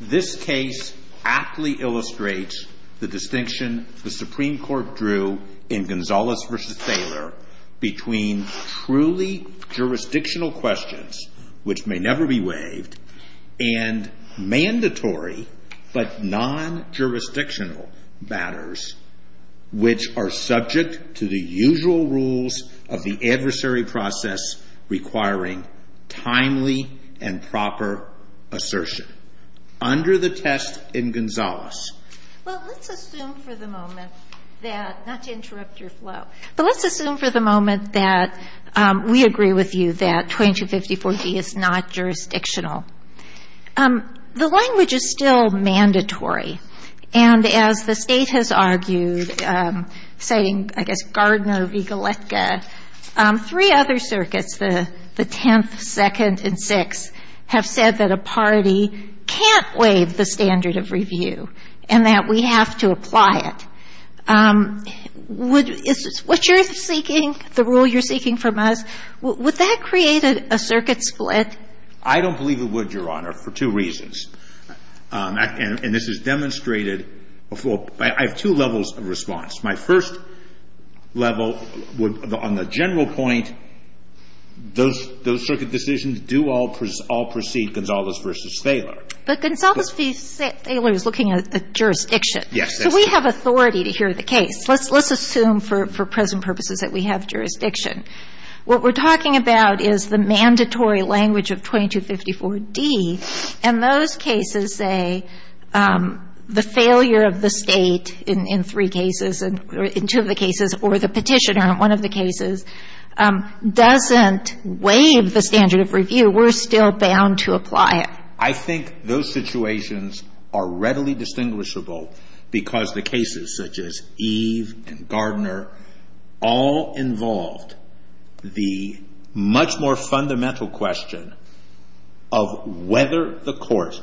This case aptly illustrates the distinction the Supreme Court drew in Gonzales v. Thaler between truly jurisdictional questions, which may never be waived, and mandatory but non-jurisdictional matters, which are subject to the usual rules of the adversary process, requiring timely and effective action. Let's assume for the moment that, not to interrupt your flow, but let's assume for the moment that we agree with you that 2254 D is not jurisdictional. The language is still mandatory, and as the State has argued, citing, I guess, Gardner v. Goletka, three other circuits, the 10th, 2nd, and 6th, have said that a party can't waive the standard of review and that we have to apply it. Is this what you're seeking, the rule you're seeking from us? Would that create a circuit split? I don't believe it would, Your Honor, for two reasons. And this is demonstrated before – I have two levels of response. My first level would – on the general point, those circuit decisions do all precede Gonzales v. Thaler. But Gonzales v. Thaler is looking at the jurisdiction. Yes. So we have authority to hear the case. Let's assume for present purposes that we have jurisdiction. What we're talking about is the mandatory language of 2254 D. And those cases say the failure of the State in three cases, in two of the cases, or the petitioner in one of the cases, doesn't waive the standard of review. We're still bound to apply it. I think those situations are readily distinguishable because the cases such as Eve and Gardner all involved the much more fundamental question of whether the court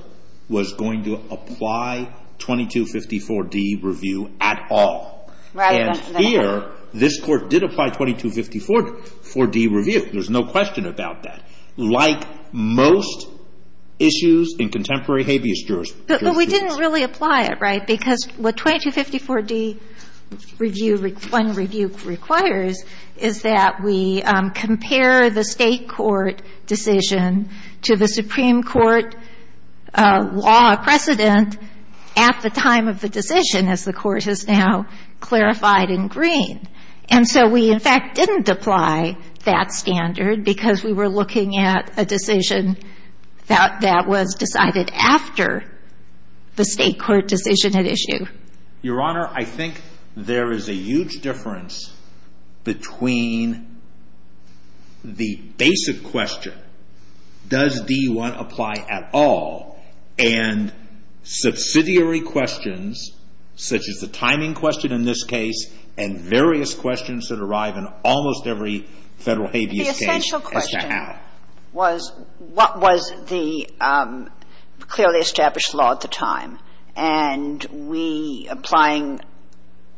was going to apply 2254 D review at all. And here, this court did apply 2254 D review. There's no question about that. Like most issues in contemporary habeas jurisprudence. But we didn't really apply it, right? Because what 2254 D review – one review requires is that we compare the State court decision to the Supreme Court law precedent at the time of the decision, as the court has now clarified in green. And so we, in fact, didn't apply that standard because we were looking at a decision that was decided after the State court decision had issued. Your Honor, I think there is a huge difference between the basic question, does D1 apply at all, and subsidiary questions such as the timing question in this case and various questions that arrive in almost every Federal habeas case as to how. And so the question is, what was the clearly established law at the time? And we, applying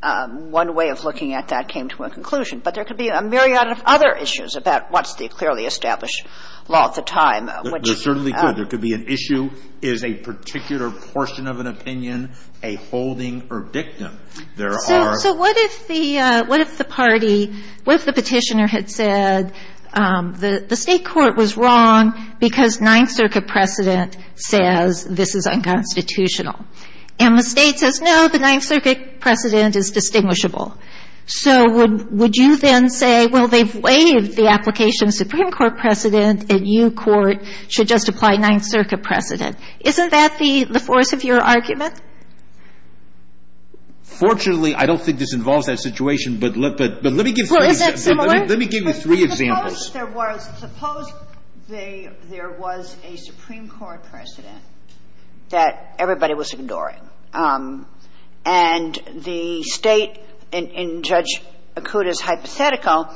one way of looking at that, came to a conclusion. But there could be a myriad of other issues about what's the clearly established law at the time. There certainly could. There could be an issue. Is a particular portion of an opinion a holding or dictum? So what if the party, what if the petitioner had said the State court was wrong because Ninth Circuit precedent says this is unconstitutional? And the State says, no, the Ninth Circuit precedent is distinguishable. So would you then say, well, they've waived the application of Supreme Court precedent, and you court should just apply Ninth Circuit precedent? Isn't that the force of your argument? Fortunately, I don't think this involves that situation, but let me give you three examples. Well, is that similar? Suppose there was a Supreme Court precedent that everybody was ignoring, and the State, in Judge Akuta's hypothetical,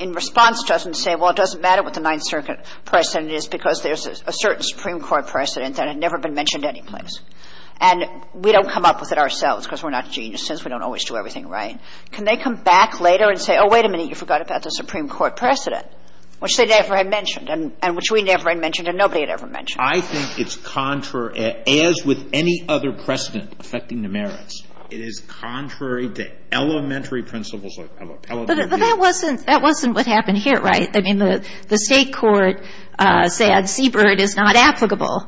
in response to us and say, well, it doesn't matter what the Ninth Circuit precedent is because there's a certain Supreme Court precedent that had never been mentioned anyplace. And we don't come up with it ourselves because we're not geniuses. We don't always do everything right. Can they come back later and say, oh, wait a minute, you forgot about the Supreme Court precedent, which they never had mentioned and which we never had mentioned and nobody had ever mentioned? I think it's contrary. As with any other precedent affecting the merits, it is contrary to elementary principles of appellate review. But that wasn't what happened here, right? I mean, the State court said Seabird is not applicable.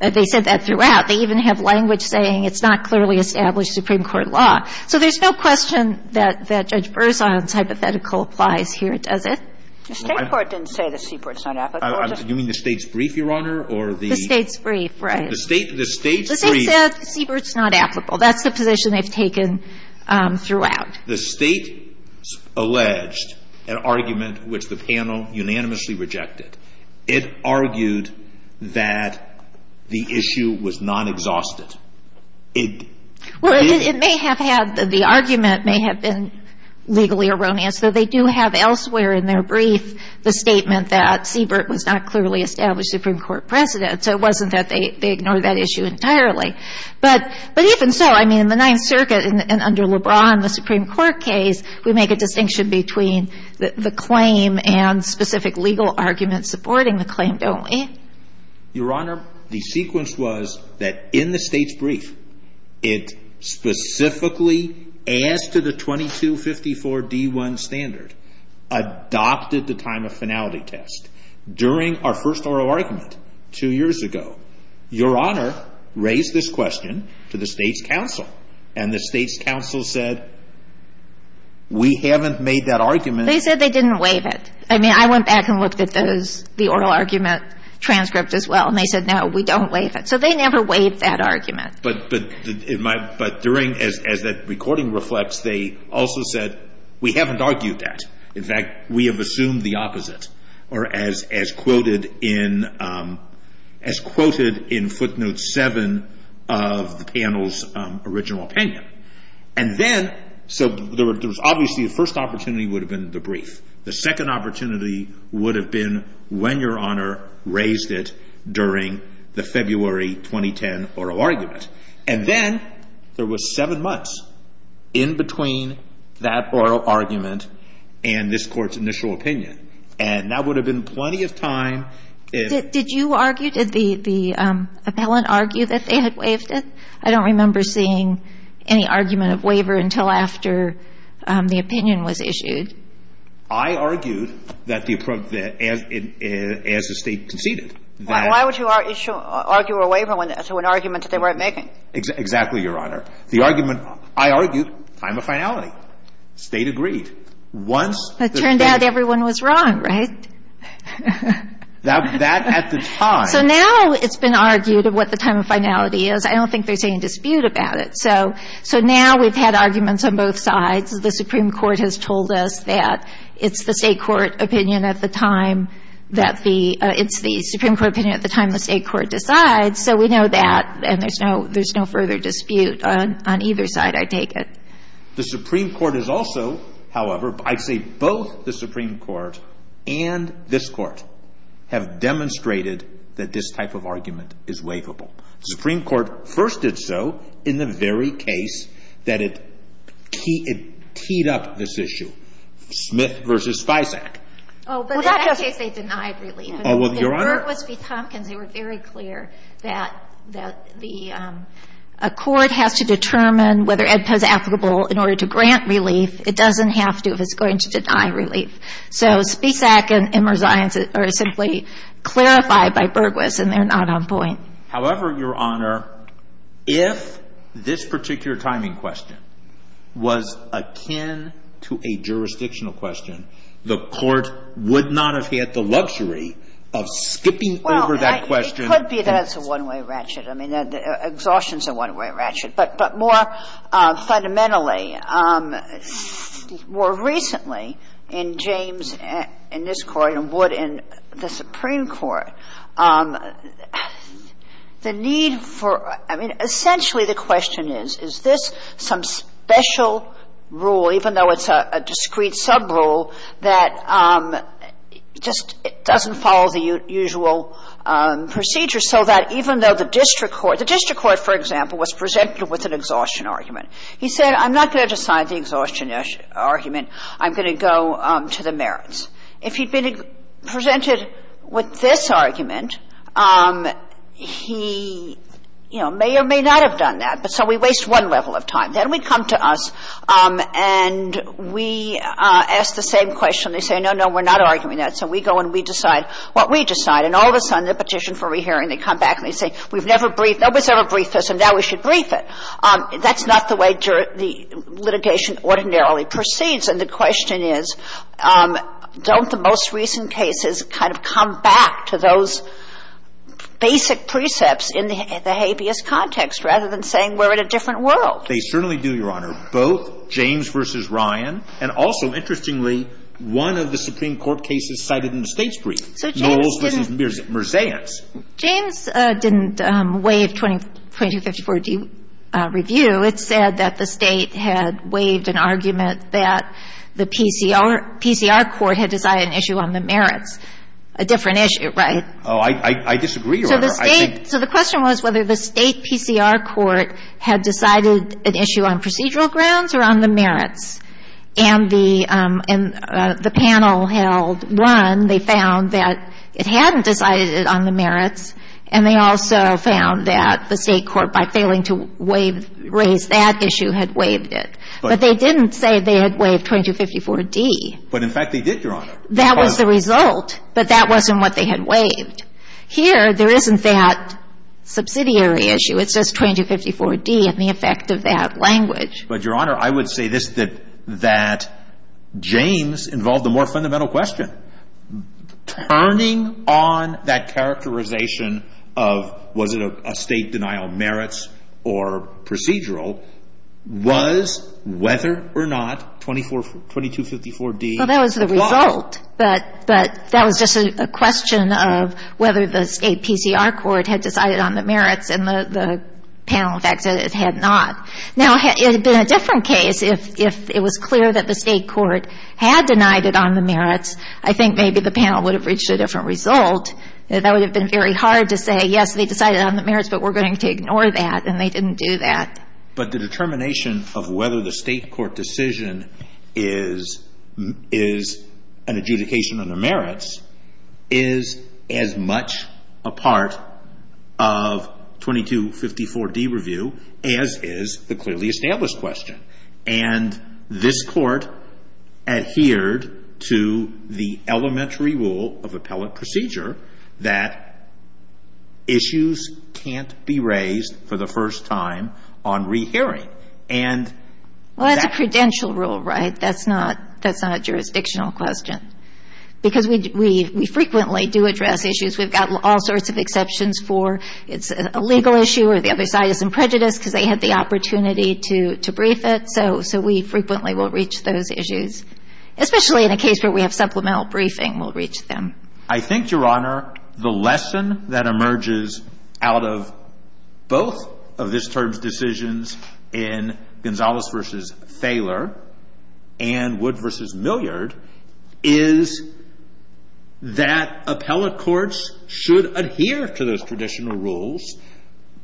They said that throughout. They even have language saying it's not clearly established Supreme Court law. So there's no question that Judge Berzon's hypothetical applies here, does it? The State court didn't say that Seabird's not applicable. You mean the State's brief, Your Honor, or the — The State's brief, right. The State's brief — The State said Seabird's not applicable. That's the position they've taken throughout. The State alleged an argument which the panel unanimously rejected. It argued that the issue was non-exhaustive. It — Well, it may have had — the argument may have been legally erroneous, though they do have elsewhere in their brief the statement that Seabird was not clearly established Supreme Court precedent. So it wasn't that they ignored that issue entirely. But even so, I mean, in the Ninth Circuit and under LeBron, the Supreme Court case, we make a distinction between the claim and specific legal arguments supporting the claim, don't we? Your Honor, the sequence was that in the State's brief, it specifically, as to the 2254 D1 standard, adopted the time of finality test. During our first oral argument two years ago, Your Honor raised this question to the State's counsel. And the State's counsel said, we haven't made that argument — They said they didn't waive it. I mean, I went back and looked at those — the oral argument transcript as well, and they said, no, we don't waive it. So they never waived that argument. But — but in my — but during — as that recording reflects, they also said, we haven't argued that. In fact, we have assumed the opposite. Or as quoted in — as quoted in footnote seven of the panel's original opinion. And then — so there was obviously the first opportunity would have been the brief. The second opportunity would have been when Your Honor raised it during the February 2010 oral argument. And then there was seven months in between that oral argument and this oral argument. And that would have been plenty of time if — Did you argue? Did the appellant argue that they had waived it? I don't remember seeing any argument of waiver until after the opinion was issued. I argued that the — as the State conceded that — Why would you argue a waiver when — to an argument that they weren't making? Exactly, Your Honor. The argument — I argued time of finality. State agreed. Once — It turned out everyone was wrong, right? That at the time — So now it's been argued of what the time of finality is. I don't think there's any dispute about it. So now we've had arguments on both sides. The Supreme Court has told us that it's the State court opinion at the time that the — it's the Supreme Court opinion at the time the State court decides. So we know that. And there's no further dispute on either side, I take it. The Supreme Court has also, however — I'd say both the Supreme Court and this court have demonstrated that this type of argument is waivable. The Supreme Court first did so in the very case that it teed up this issue, Smith v. Fisac. Oh, but in that case they denied, really. Oh, well, Your Honor — But if the verdict was v. Tompkins, they were very clear that the court has to determine whether AEDPA is applicable in order to grant relief. It doesn't have to if it's going to deny relief. So Fisac and Immersion are simply clarified by Bergwis, and they're not on point. However, Your Honor, if this particular timing question was akin to a jurisdictional question, the court would not have had the luxury of skipping over that question — Well, it could be that it's a one-way ratchet. I mean, exhaustion's a one-way ratchet. But more fundamentally, more recently in James, in this Court, and Wood in the Supreme Court, the need for — I mean, essentially the question is, is this some special rule, even though it's a discrete subrule, that just doesn't follow the usual procedure so that even though the district court — the district court, for example, was presented with an exhaustion argument. He said, I'm not going to decide the exhaustion argument. I'm going to go to the merits. If he'd been presented with this argument, he, you know, may or may not have done that, but so we waste one level of time. Then we come to us and we ask the same question. They say, no, no, we're not arguing that. So we go and we decide what we decide. And all of a sudden, the petition for rehearing, they come back and they say, we've never briefed — nobody's ever briefed this, and now we should brief it. That's not the way the litigation ordinarily proceeds. And the question is, don't the most recent cases kind of come back to those basic precepts in the habeas context rather than saying we're in a different world? They certainly do, Your Honor. Both James v. Ryan and also, interestingly, one of the Supreme Court cases cited in the State's brief. So James didn't — Noles v. Merzance. James didn't waive 2254-D review. It said that the State had waived an argument that the PCR court had decided an issue on the merits, a different issue, right? Oh, I disagree, Your Honor. So the State — so the question was whether the State PCR court had decided an issue on procedural grounds or on the merits. And the panel held one. They found that it hadn't decided it on the merits. And they also found that the State court, by failing to raise that issue, had waived it. But they didn't say they had waived 2254-D. But, in fact, they did, Your Honor. That was the result, but that wasn't what they had waived. Here, there isn't that subsidiary issue. It says 2254-D and the effect of that language. But, Your Honor, I would say this, that James involved a more fundamental question. Turning on that characterization of, was it a State denial of merits or procedural, was whether or not 2254-D applied. Well, that was the result. But that was just a question of whether the State PCR court had decided on the merits and the panel facts that it had not. Now, it would have been a different case if it was clear that the State court had denied it on the merits. I think maybe the panel would have reached a different result. That would have been very hard to say, yes, they decided on the merits, but we're going to ignore that. And they didn't do that. But the determination of whether the State court decision is an adjudication on the merits is as much a part of 2254-D review as is the clearly established question. And this Court adhered to the elementary rule of appellate procedure that issues can't be raised for the first time on rehearing. Well, that's a credential rule, right? That's not a jurisdictional question. Because we frequently do address issues. We've got all sorts of exceptions for it's a legal issue or the other side is in prejudice because they had the opportunity to brief it. So we frequently will reach those issues. Especially in a case where we have supplemental briefing, we'll reach them. I think, Your Honor, the lesson that emerges out of both of this term's decisions in Gonzales v. Thaler and Wood v. Milliard is that appellate courts should adhere to those traditional rules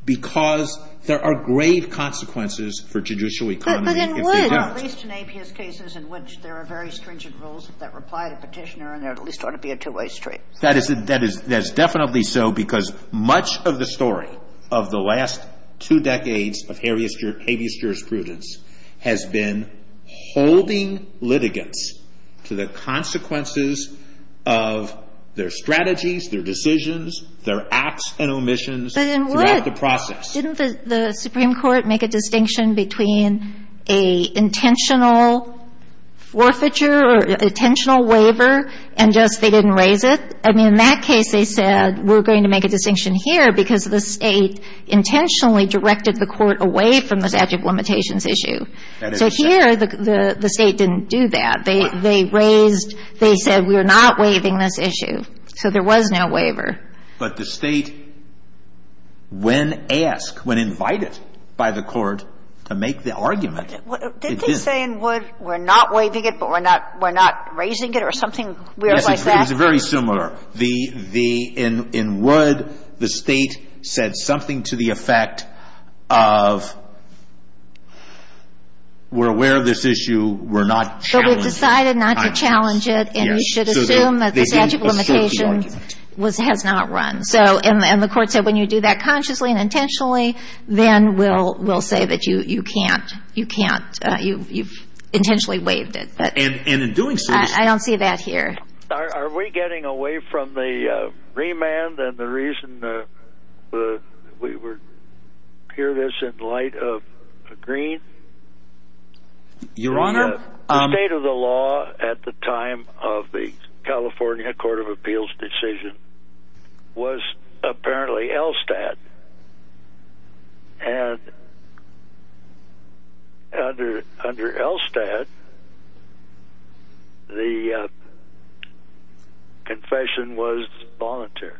because there are grave consequences for judicial economy if they don't. But in Wood. At least in APS cases in which there are very stringent rules that reply to petitioner and there at least ought to be a two-way street. That is definitely so because much of the story of the last two decades of habeas jurisprudence has been holding litigants to the consequences of their strategies, their decisions, their acts and omissions throughout the process. But in Wood, didn't the Supreme Court make a distinction between an intentional forfeiture or intentional waiver and just they didn't raise it? I mean, in that case, they said, we're going to make a distinction here because the State intentionally directed the Court away from the statute of limitations issue. So here, the State didn't do that. They raised, they said, we're not waiving this issue. So there was no waiver. But the State, when asked, when invited by the Court to make the argument. Did they say in Wood, we're not waiving it, but we're not raising it or something weird like that? Yes. It's very similar. In Wood, the State said something to the effect of we're aware of this issue. We're not challenging it. But we've decided not to challenge it. And you should assume that the statute of limitations has not run. And the Court said when you do that consciously and intentionally, then we'll say that you can't. You can't. You've intentionally waived it. And in doing so. I don't see that here. Are we getting away from the remand and the reason we hear this in light of Green? Your Honor. The state of the law at the time of the California Court of Appeals decision was apparently ELSTAT. And under ELSTAT, the confession was voluntary.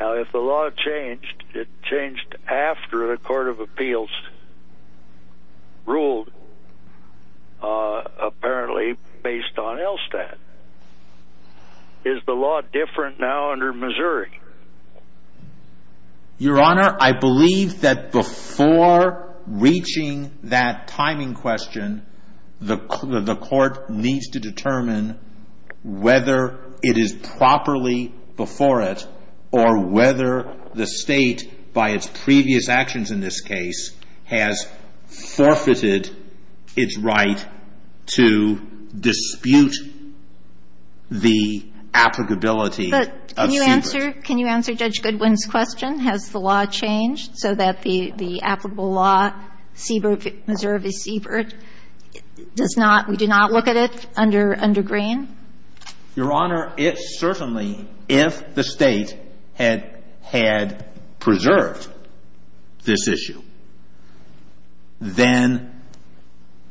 Now, if the law changed, it changed after the Court of Appeals ruled apparently based on ELSTAT. Is the law different now under Missouri? Your Honor, I believe that before reaching that timing question, the Court needs to determine whether it is properly before it or whether the state by its previous actions in this case has forfeited its right to dispute the applicability of Siebert. But can you answer Judge Goodwin's question? Has the law changed so that the applicable law, Siebert, Missouri v. Siebert, does not, we do not look at it under Green? Your Honor, it certainly, if the state had preserved this issue, then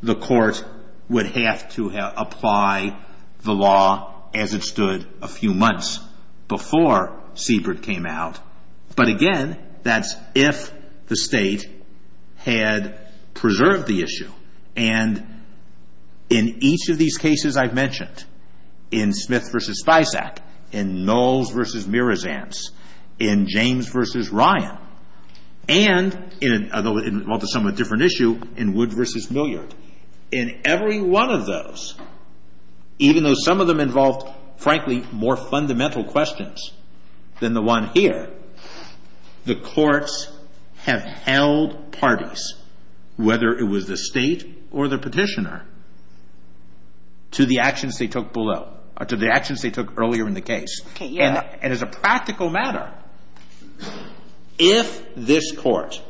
the court would have to apply the law as it stood a few months before Siebert came out. But again, that's if the state had preserved the issue. And in each of these cases I've mentioned, in Smith v. Spisak, in Knowles v. Mirazance, in James v. Ryan, and in a somewhat different issue, in Wood v. Milliard, in every one of those, even though some of them involved, frankly, more fundamental questions than the one here, the courts have held parties, whether it was the state or the petitioner, to the actions they took below, to the actions they took earlier in the case. And as a practical matter, if this court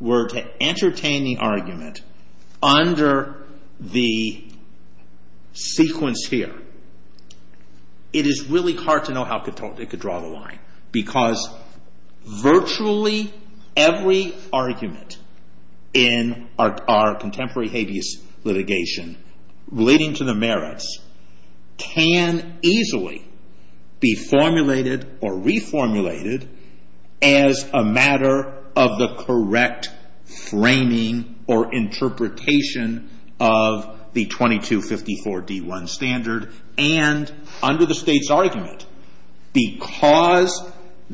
were to entertain the argument under the sequence here, it is really hard to know how it could draw the line. Because virtually every argument in our contemporary habeas litigation relating to the merits can easily be formulated or reformulated as a matter of the correct framing or interpretation of the 2254 D1 standard. And under the state's argument, because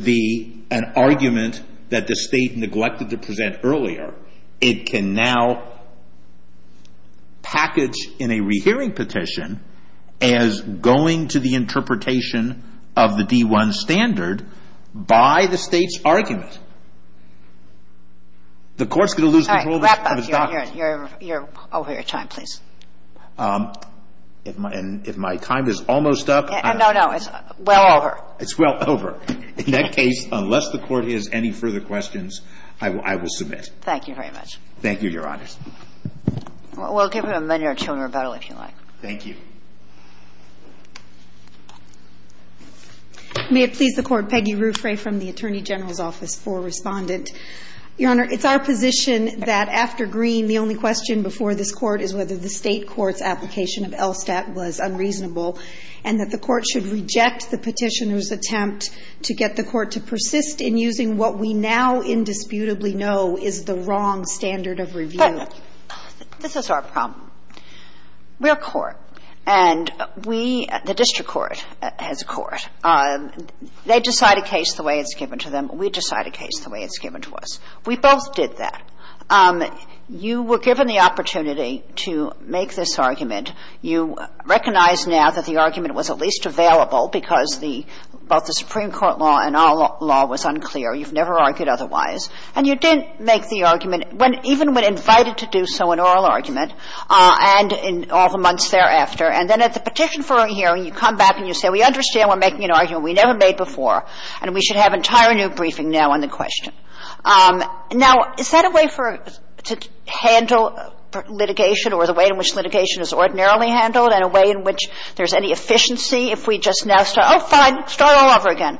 an argument that the state neglected to present earlier, it can now package in a rehearing petition as going to the interpretation of the D1 standard by the state's argument. The court's going to lose control of its document. Thank you. Thank you. Thank you. Thank you. Thank you. I'm sorry, Your Honor, you're over your time, please. If my time is almost up. No, no. It's well over. It's well over. In that case, unless the Court has any further questions, I will submit. Thank you very much. Thank you, Your Honors. We'll give him a minute or two in rebuttal, if you like. Thank you. May it please the Court, Peggy Ruffray from the Attorney General's Office for Respondent. Your Honor, it's our position that after Green, the only question before this Court is whether the State Court's application of LSTAT was unreasonable, and that the Court should reject the petitioner's attempt to get the Court to persist in using what we now indisputably know is the wrong standard of review. This is our problem. We're a court, and we, the district court, has a court. They decide a case the way it's given to them. We decide a case the way it's given to us. We both did that. You were given the opportunity to make this argument. You recognize now that the argument was at least available because the, both the Supreme Court law and our law was unclear. You've never argued otherwise. And you didn't make the argument when, even when invited to do so in oral argument and in all the months thereafter. And then at the petition for a hearing, you come back and you say, we understand we're making an argument we never made before, and we should have an entire new briefing now on the question. Now, is that a way for, to handle litigation or the way in which litigation is ordinarily handled and a way in which there's any efficiency if we just now start, oh, fine, start all over again?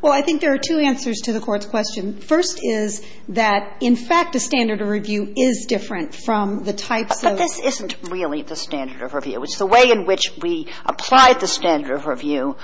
Well, I think there are two answers to the Court's question. The first is that, in fact, the standard of review is different from the types Kagan. But this isn't really the standard of review. It's the way in which we apply the standard of review,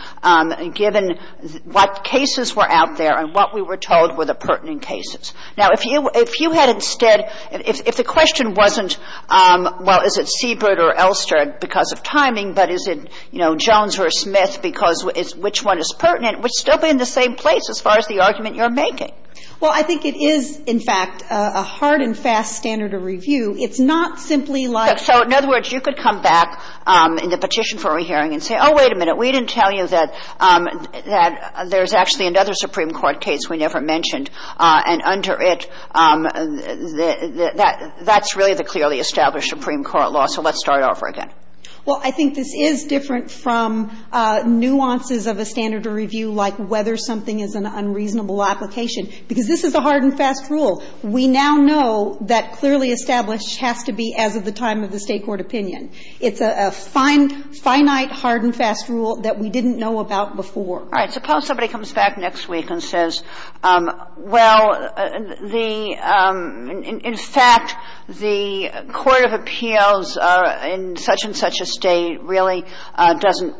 given what cases were out there and what we were told were the pertinent cases. Now, if you had instead, if the question wasn't, well, is it Siebert or Elster because of timing, but is it, you know, Jones or Smith because it's which one is pertinent, it would still be in the same place as far as the argument you're making. Well, I think it is, in fact, a hard and fast standard of review. It's not simply like so. In other words, you could come back in the petition for re-hearing and say, oh, wait a minute, we didn't tell you that there's actually another Supreme Court case we never mentioned, and under it, that's really the clearly established Supreme Court law, so let's start over again. Well, I think this is different from nuances of a standard of review like whether something is an unreasonable application, because this is a hard and fast rule. We now know that clearly established has to be as of the time of the State court opinion. It's a finite, hard and fast rule that we didn't know about before. All right. Suppose somebody comes back next week and says, well, the – in fact, the court of appeals in such and such a State really doesn't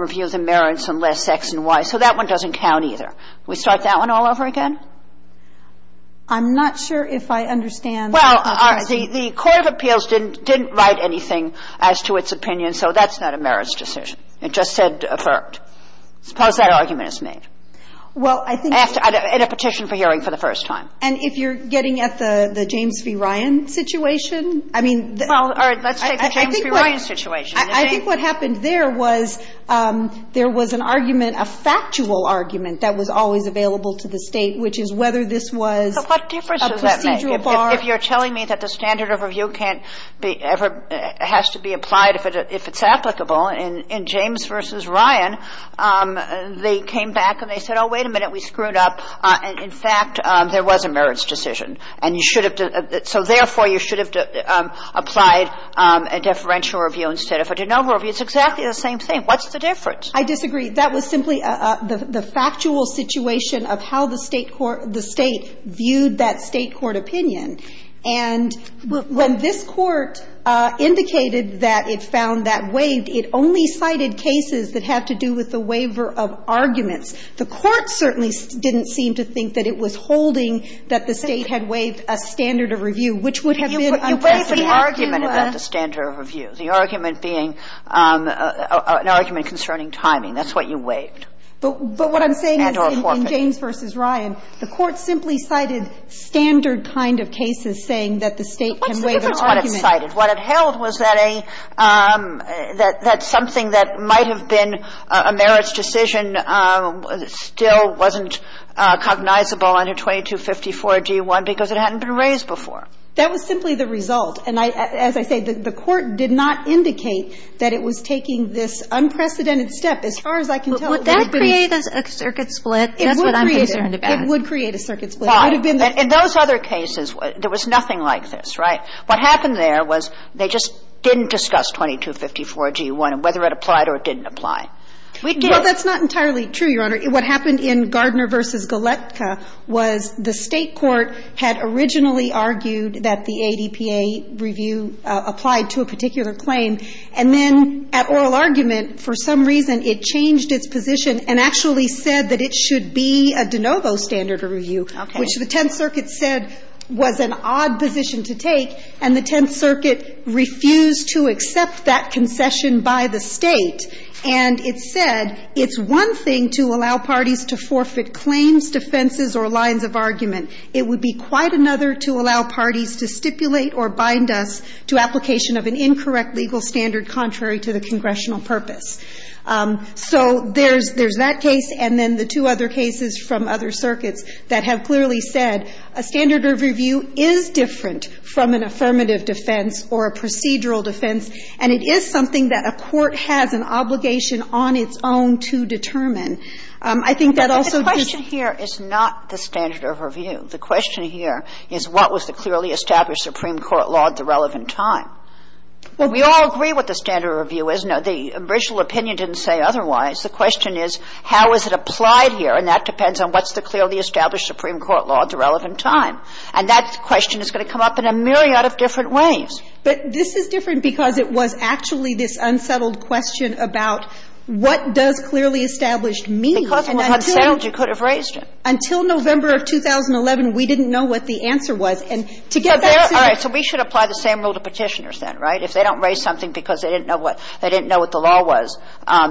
review the merits unless X and Y, so that one doesn't count either. We start that one all over again? I'm not sure if I understand the question. Well, the court of appeals didn't write anything as to its opinion, so that's not a merits decision. It just said affirmed. Suppose that argument is made. Well, I think it's – In a petition for hearing for the first time. And if you're getting at the James v. Ryan situation, I mean – Well, let's take the James v. Ryan situation. I think what happened there was there was an argument, a factual argument, that was always available to the State, which is whether this was a procedural bar. So what difference does that make? If you're telling me that the standard of review can't be ever – has to be applied if it's applicable in James v. Ryan, they came back and they said, oh, wait a minute, we screwed up. In fact, there was a merits decision. And you should have – so therefore, you should have applied a deferential review instead of a de novo review. It's exactly the same thing. What's the difference? I disagree. That was simply the factual situation of how the State court – the State viewed that State court opinion. And when this Court indicated that it found that waived, it only cited cases that had to do with the waiver of arguments. The Court certainly didn't seem to think that it was holding that the State had waived a standard of review, which would have been unprecedented. You waived an argument about the standard of review, the argument being an argument concerning timing. That's what you waived. But what I'm saying is in James v. Ryan, the Court simply cited standard kind of cases saying that the State can waive its argument. What's the difference in what it cited? What it held was that a – that something that might have been a merits decision still wasn't cognizable under 2254g1 because it hadn't been raised before. That was simply the result. And as I say, the Court did not indicate that it was taking this unprecedented step. As far as I can tell, it was. But would that create a circuit split? That's what I'm concerned about. It would create a circuit split. It would have been the – In those other cases, there was nothing like this, right? What happened there was they just didn't discuss 2254g1, whether it applied or it didn't apply. We did. Well, that's not entirely true, Your Honor. What happened in Gardner v. Goletka was the State court had originally argued that the ADPA review applied to a particular claim. And then at oral argument, for some reason, it changed its position and actually said that it should be a de novo standard of review, which the Tenth Circuit said was an odd position to take. And the Tenth Circuit refused to accept that concession by the State. And it said it's one thing to allow parties to forfeit claims, defenses, or lines of argument. It would be quite another to allow parties to stipulate or bind us to application of an incorrect legal standard contrary to the congressional purpose. So there's that case. And then the two other cases from other circuits that have clearly said a standard of review is different from an affirmative defense or a procedural defense, and it is something that a court has an obligation on its own to determine. I think that also just ---- But the question here is not the standard of review. The question here is what was the clearly established Supreme Court law at the relevant time. Well, we all agree what the standard of review is. Now, the original opinion didn't say otherwise. The question is, how is it applied here? And that depends on what's the clearly established Supreme Court law at the relevant time. And that question is going to come up in a myriad of different ways. But this is different because it was actually this unsettled question about what does clearly established mean? Because without sound, you could have raised it. Until November of 2011, we didn't know what the answer was. And to get back to the ---- All right. So we should apply the same rule to Petitioners then, right? If they don't raise something because they didn't know what the law was,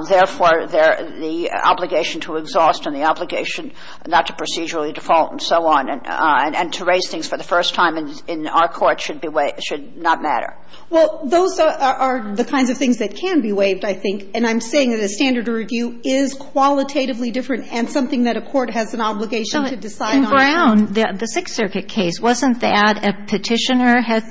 therefore they're the obligation to exhaust and the obligation not to procedurally default and so on. And to raise things for the first time in our court should be ---- should not matter. Well, those are the kinds of things that can be waived, I think. And I'm saying that a standard of review is qualitatively different and something that a court has an obligation to decide on. In Brown, the Sixth Circuit case, wasn't that a Petitioner had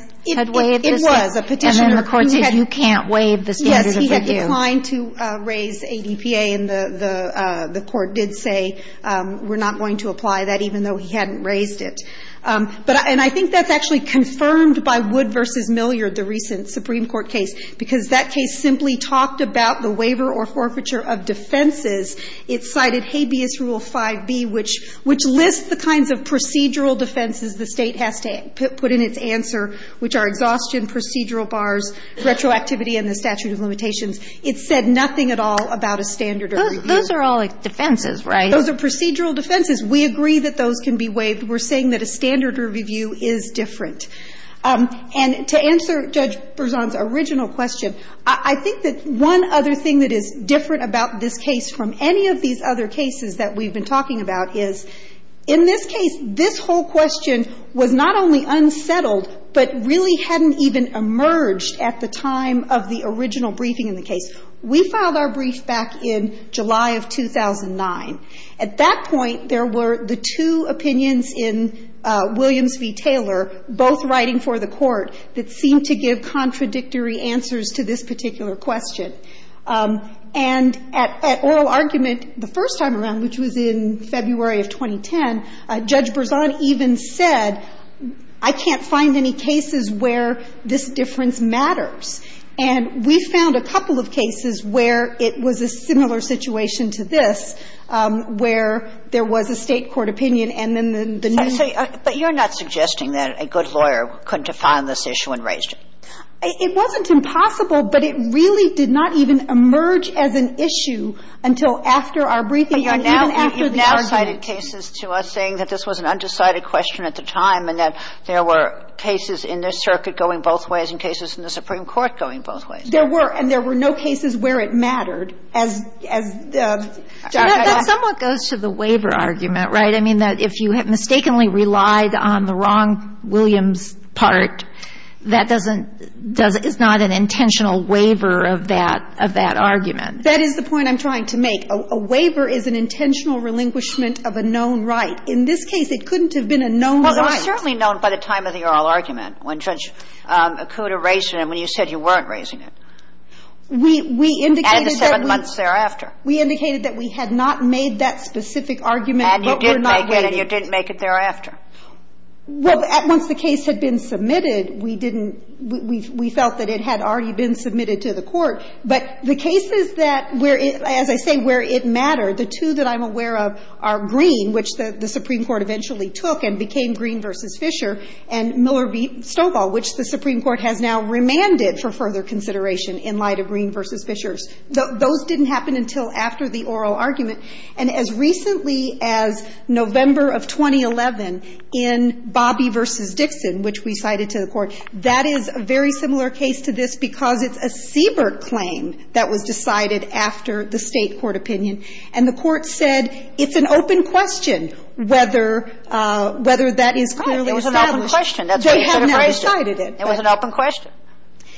waived this? It was. A Petitioner who had ---- And then the court said you can't waive the standard of review. Yes. He had declined to raise ADPA, and the court did say we're not going to apply that even though he hadn't raised it. But ---- and I think that's actually confirmed by Wood v. Milliard, the recent Supreme Court case, because that case simply talked about the waiver or forfeiture of defenses. It cited Habeas Rule 5b, which lists the kinds of procedural defenses the State has to put in its answer, which are exhaustion, procedural bars, retroactivity and the statute of limitations. It said nothing at all about a standard of review. Those are all defenses, right? Those are procedural defenses. We agree that those can be waived. We're saying that a standard of review is different. And to answer Judge Berzon's original question, I think that one other thing that is different about this case from any of these other cases that we've been talking about is, in this case, this whole question was not only unsettled, but really hadn't even emerged at the time of the original briefing in the case. We filed our brief back in July of 2009. At that point, there were the two opinions in Williams v. Taylor, both writing for the court, that seemed to give contradictory answers to this particular question. And at oral argument the first time around, which was in February of 2010, Judge Berzon said, well, this is a case where this difference matters. And we found a couple of cases where it was a similar situation to this, where there was a State court opinion and then the new. Kagan. But you're not suggesting that a good lawyer couldn't have found this issue and raised it. It wasn't impossible, but it really did not even emerge as an issue until after our briefing and even after the argument. So you're saying that there were undecided cases to us, saying that this was an undecided question at the time and that there were cases in this circuit going both ways and cases in the Supreme Court going both ways. There were. And there were no cases where it mattered, as the judge had said. That somewhat goes to the waiver argument, right? I mean, that if you had mistakenly relied on the wrong Williams part, that doesn't doesn't – it's not an intentional waiver of that argument. That is the point I'm trying to make. A waiver is an intentional relinquishment of a known right. In this case, it couldn't have been a known right. Well, it was certainly known by the time of the oral argument when Judge Acuda raised it and when you said you weren't raising it. We indicated that we – And the seven months thereafter. We indicated that we had not made that specific argument, but we're not raising it. And you didn't make it, and you didn't make it thereafter. Well, once the case had been submitted, we didn't – we felt that it had already been submitted to the court. But the cases that – as I say, where it mattered, the two that I'm aware of are Green, which the Supreme Court eventually took and became Green v. Fisher, and Miller v. Stovall, which the Supreme Court has now remanded for further consideration in light of Green v. Fisher's. Those didn't happen until after the oral argument. And as recently as November of 2011 in Bobby v. Dixon, which we cited to the court, that is a very similar case to this because it's a Siebert claim that was decided after the State court opinion. And the Court said it's an open question whether – whether that is clearly established. Right. It was an open question. That's why you should have raised it. They have now decided it. It was an open question.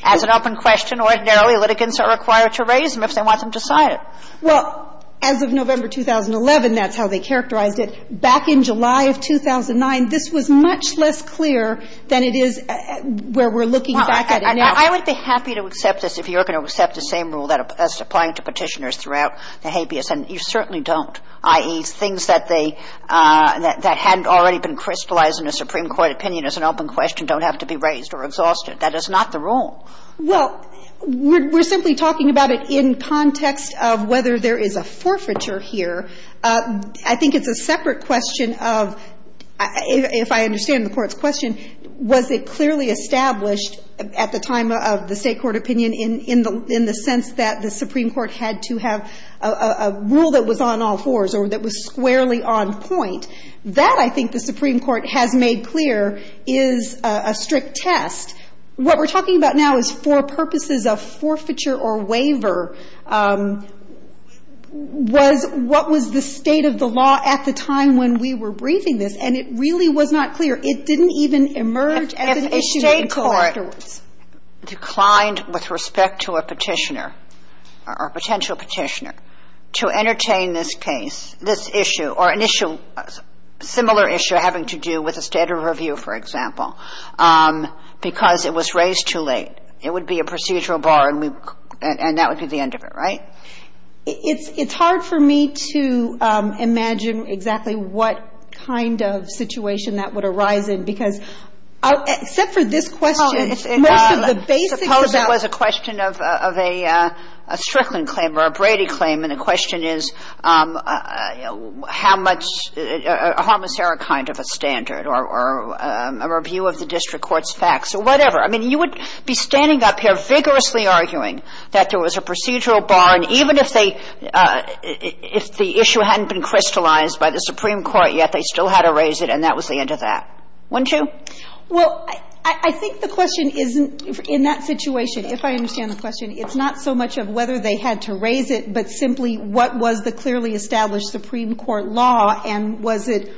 As an open question, ordinarily litigants are required to raise them if they want them decided. Well, as of November 2011, that's how they characterized it. Back in July of 2009, this was much less clear than it is where we're looking back at it now. Well, I would be happy to accept this if you're going to accept the same rule as applying to Petitioners throughout the habeas. And you certainly don't, i.e., things that they – that hadn't already been crystallized in a Supreme Court opinion as an open question don't have to be raised or exhausted. That is not the rule. Well, we're simply talking about it in context of whether there is a forfeiture here. I think it's a separate question of – if I understand the Court's question, was it clearly established at the time of the State Court opinion in the sense that the Supreme Court had to have a rule that was on all fours or that was squarely on point? That, I think, the Supreme Court has made clear is a strict test. What we're talking about now is for purposes of forfeiture or waiver. Was – what was the state of the law at the time when we were briefing this? And it really was not clear. It didn't even emerge as an issue until afterwards. If a State Court declined with respect to a Petitioner or a potential Petitioner to entertain this case, this issue, or an issue – similar issue having to do with a State of Review, for example, because it was raised too late, it would be a procedural bar and we – and that would be the end of it, right? It's hard for me to imagine exactly what kind of situation that would arise in because – except for this question, most of the basics of that – Suppose it was a question of a Strickland claim or a Brady claim and the question is how much – a homiceric kind of a standard or a review of the district court's facts or whatever. I mean, you would be standing up here vigorously arguing that there was a procedural bar and even if they – if the issue hadn't been crystallized by the Supreme Court yet, they still had to raise it and that was the end of that. Wouldn't you? Well, I think the question isn't – in that situation, if I understand the question, it's not so much of whether they had to raise it but simply what was the clearly established Supreme Court law and was it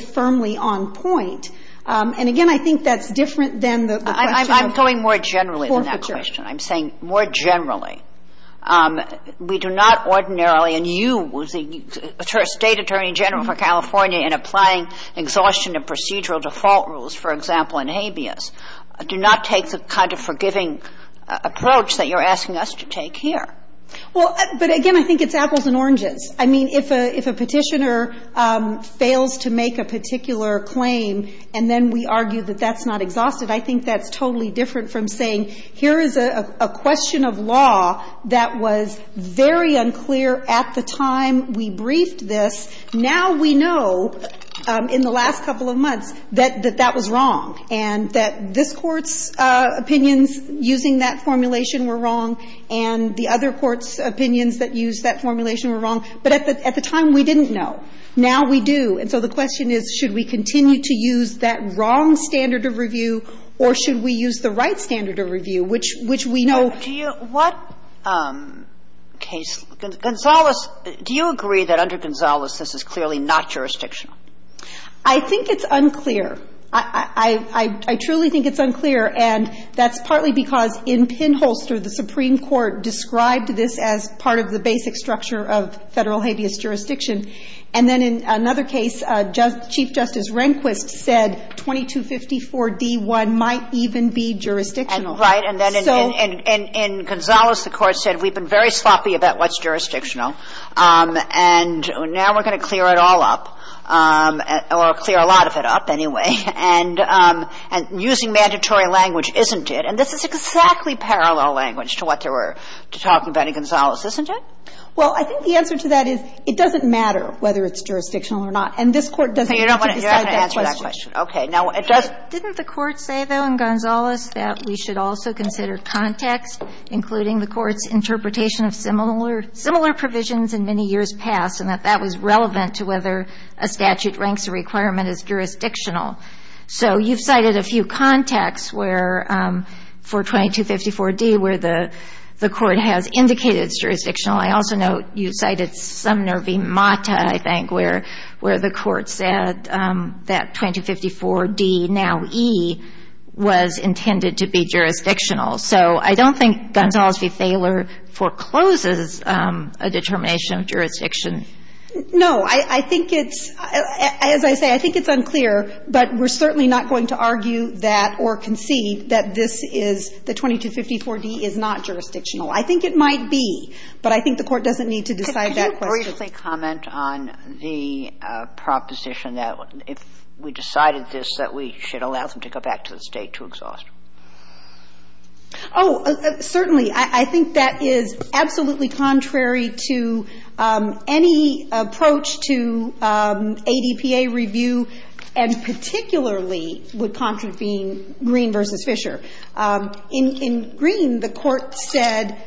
firmly on point. And again, I think that's different than the question of – I'm going more generally than that question. I'm saying more generally. We do not ordinarily – and you, State Attorney General for California, in applying exhaustion of procedural default rules, for example, in habeas, do not take the kind of forgiving approach that you're asking us to take here. Well, but again, I think it's apples and oranges. I mean, if a Petitioner fails to make a particular claim and then we argue that that's not exhausted, I think that's totally different from saying here is a question of law that was very unclear at the time we briefed this. Now we know in the last couple of months that that was wrong and that this Court's opinions using that formulation were wrong and the other Court's opinions that use that formulation were wrong. But at the time we didn't know. Now we do. And so the question is, should we continue to use that wrong standard of review or should we use the right standard of review, which we know – Do you – what case – Gonzales, do you agree that under Gonzales this is clearly not jurisdictional? I think it's unclear. I truly think it's unclear, and that's partly because in Pinholster the Supreme Court described this as part of the basic structure of Federal habeas jurisdiction, and then in another case Chief Justice Rehnquist said 2254d1 might even be jurisdictional. Right. And then in Gonzales the Court said we've been very sloppy about what's jurisdictional and now we're going to clear it all up, or clear a lot of it up anyway, and using mandatory language isn't it. And this is exactly parallel language to what they were talking about in Gonzales, isn't it? Well, I think the answer to that is it doesn't matter whether it's jurisdictional or not. And this Court doesn't need to decide that question. You're not going to answer that question. Okay. Now, it does – Didn't the Court say, though, in Gonzales that we should also consider context, including the Court's interpretation of similar provisions in many years past, and that that was relevant to whether a statute ranks a requirement as jurisdictional. So you've cited a few contexts where, for 2254d, where the Court has indicated it's jurisdictional. I also note you cited Sumner v. Mata, I think, where the Court said that 2254d, now e, was intended to be jurisdictional. So I don't think Gonzales v. Thaler forecloses a determination of jurisdiction. No. I think it's – as I say, I think it's unclear, but we're certainly not going to argue that or concede that this is – that 2254d is not jurisdictional. I think it might be, but I think the Court doesn't need to decide that question. Could you briefly comment on the proposition that if we decided this, that we should allow them to go back to the State to exhaust? Oh, certainly. I think that is absolutely contrary to any approach to ADPA review, and particularly would contravene Green v. Fisher. In Green, the Court said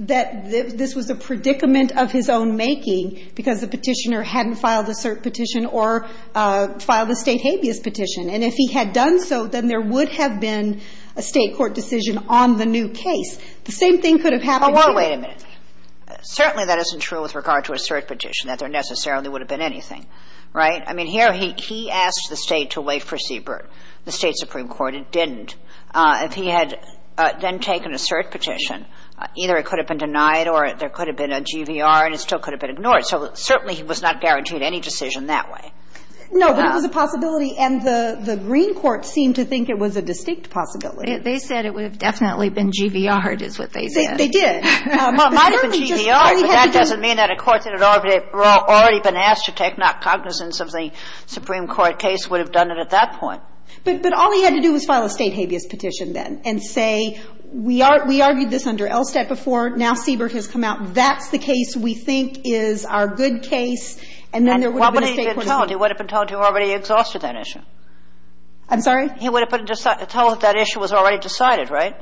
that this was a predicament of his own making because the petitioner hadn't filed a cert petition or filed a State habeas petition. And if he had done so, then there would have been a State court decision on the new case. The same thing could have happened here. Well, wait a minute. Certainly that isn't true with regard to a cert petition, that there necessarily would have been anything, right? I mean, here he asked the State to wait for Siebert. The State supreme court, it didn't. If he had then taken a cert petition, either it could have been denied or there could have been a GVR and it still could have been ignored. So certainly he was not guaranteed any decision that way. No, but it was a possibility, and the Green court seemed to think it was a distinct possibility. Well, they said it would have definitely been GVR'd, is what they said. They did. Well, it might have been GVR'd, but that doesn't mean that a court that had already been asked to take not cognizance of the supreme court case would have done it at that point. But all he had to do was file a State habeas petition then and say, we argued this under ELSTAT before, now Siebert has come out, that's the case we think is our good case, and then there would have been a State court decision. And what would he have been told? He would have been told he already exhausted that issue. I'm sorry? He would have been told that issue was already decided, right?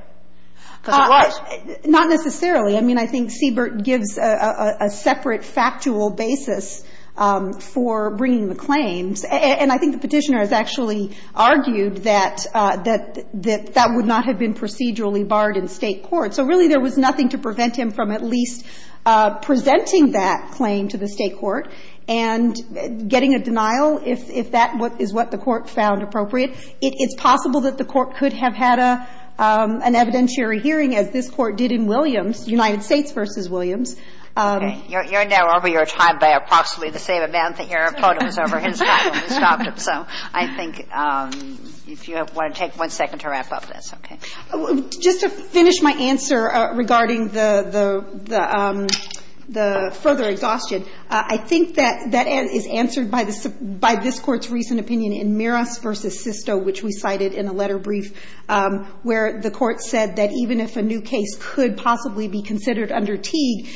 Because it was. Not necessarily. I mean, I think Siebert gives a separate factual basis for bringing the claims. And I think the Petitioner has actually argued that that would not have been procedurally barred in State court. So really there was nothing to prevent him from at least presenting that claim to the State court and getting a denial if that is what the court found appropriate. It's possible that the court could have had an evidentiary hearing as this Court did in Williams, United States v. Williams. Okay. You're now over your time by approximately the same amount that your opponent was over his time when we stopped him. So I think if you want to take one second to wrap up, that's okay. Just to finish my answer regarding the further exhaustion, I think that that is answered by this Court's recent opinion in Miros v. Sisto, which we cited in a letter brief, where the Court said that even if a new case could possibly be considered under Teague,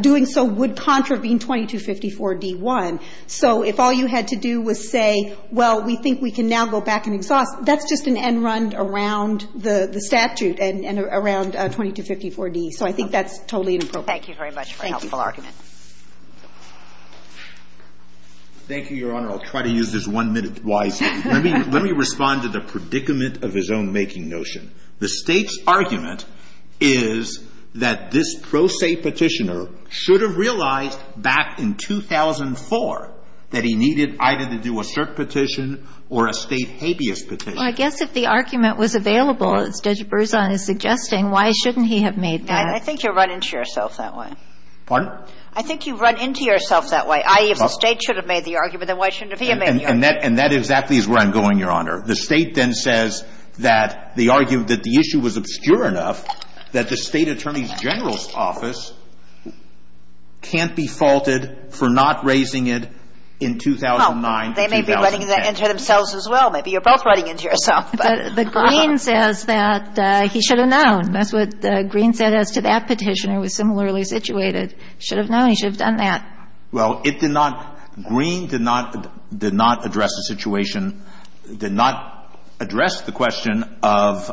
doing so would contravene 2254d-1. So if all you had to do was say, well, we think we can now go back and exhaust, that's just an end run around the statute and around 2254d. So I think that's totally inappropriate. Thank you very much for a helpful argument. Thank you. Thank you, Your Honor. I'll try to use this one minute wisely. Let me respond to the predicament of his own making notion. The State's argument is that this pro se petitioner should have realized back in 2004 that he needed either to do a cert petition or a State habeas petition. Well, I guess if the argument was available, as Judge Berzon is suggesting, why shouldn't he have made that? I think you'll run into yourself that way. Pardon? I think you'll run into yourself that way, i.e., if the State should have made the argument, then why shouldn't he have made the argument? And that exactly is where I'm going, Your Honor. The State then says that they argue that the issue was obscure enough that the State Attorney General's office can't be faulted for not raising it in 2009 to 2010. Well, they may be running into themselves as well. Maybe you're both running into yourself. The Green says that he should have known. That's what Green said as to that petition. Well, it did not. Green did not address the situation, did not address the question of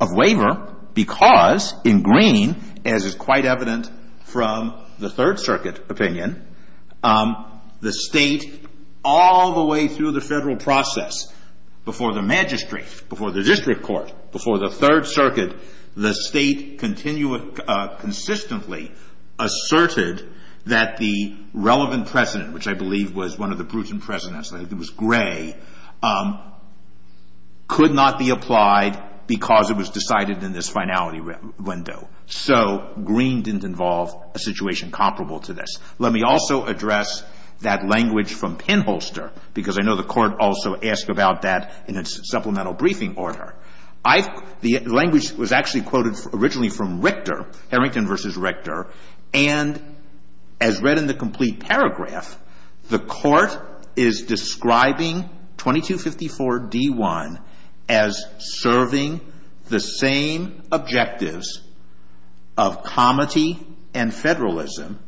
waiver because in Green, as is quite evident from the Third Circuit opinion, the State all the way through the Federal process, before the magistrate, before the district court, before the Third Circuit, the State consistently asserted that the relevant precedent, which I believe was one of the prudent precedents, I think it was Gray, could not be applied because it was decided in this finality window. So Green didn't involve a situation comparable to this. Let me also address that language from Pinholster because I know the Court also asked about that in its supplemental briefing order. The language was actually quoted originally from Richter, Harrington v. Richter. And as read in the complete paragraph, the Court is describing 2254d-1 as serving the same objectives of comity and federalism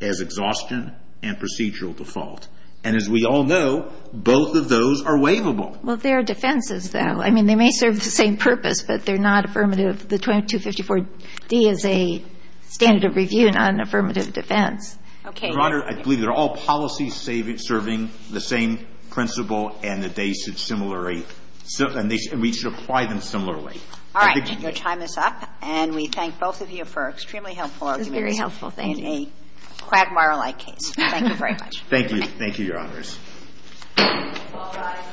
as exhaustion and procedural default. And as we all know, both of those are waivable. Well, there are defenses, though. I mean, they may serve the same purpose, but they're not affirmative. The 2254d is a standard of review, not an affirmative defense. Okay. Your Honor, I believe they're all policies serving the same principle and that they should similarly – and we should apply them similarly. All right. Your time is up. And we thank both of you for an extremely helpful argument. It was a very helpful thing. And a quagmire-like case. Thank you very much. Thank you. Thank you, Your Honors. All rise.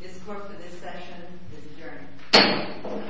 This Court for this session is adjourned.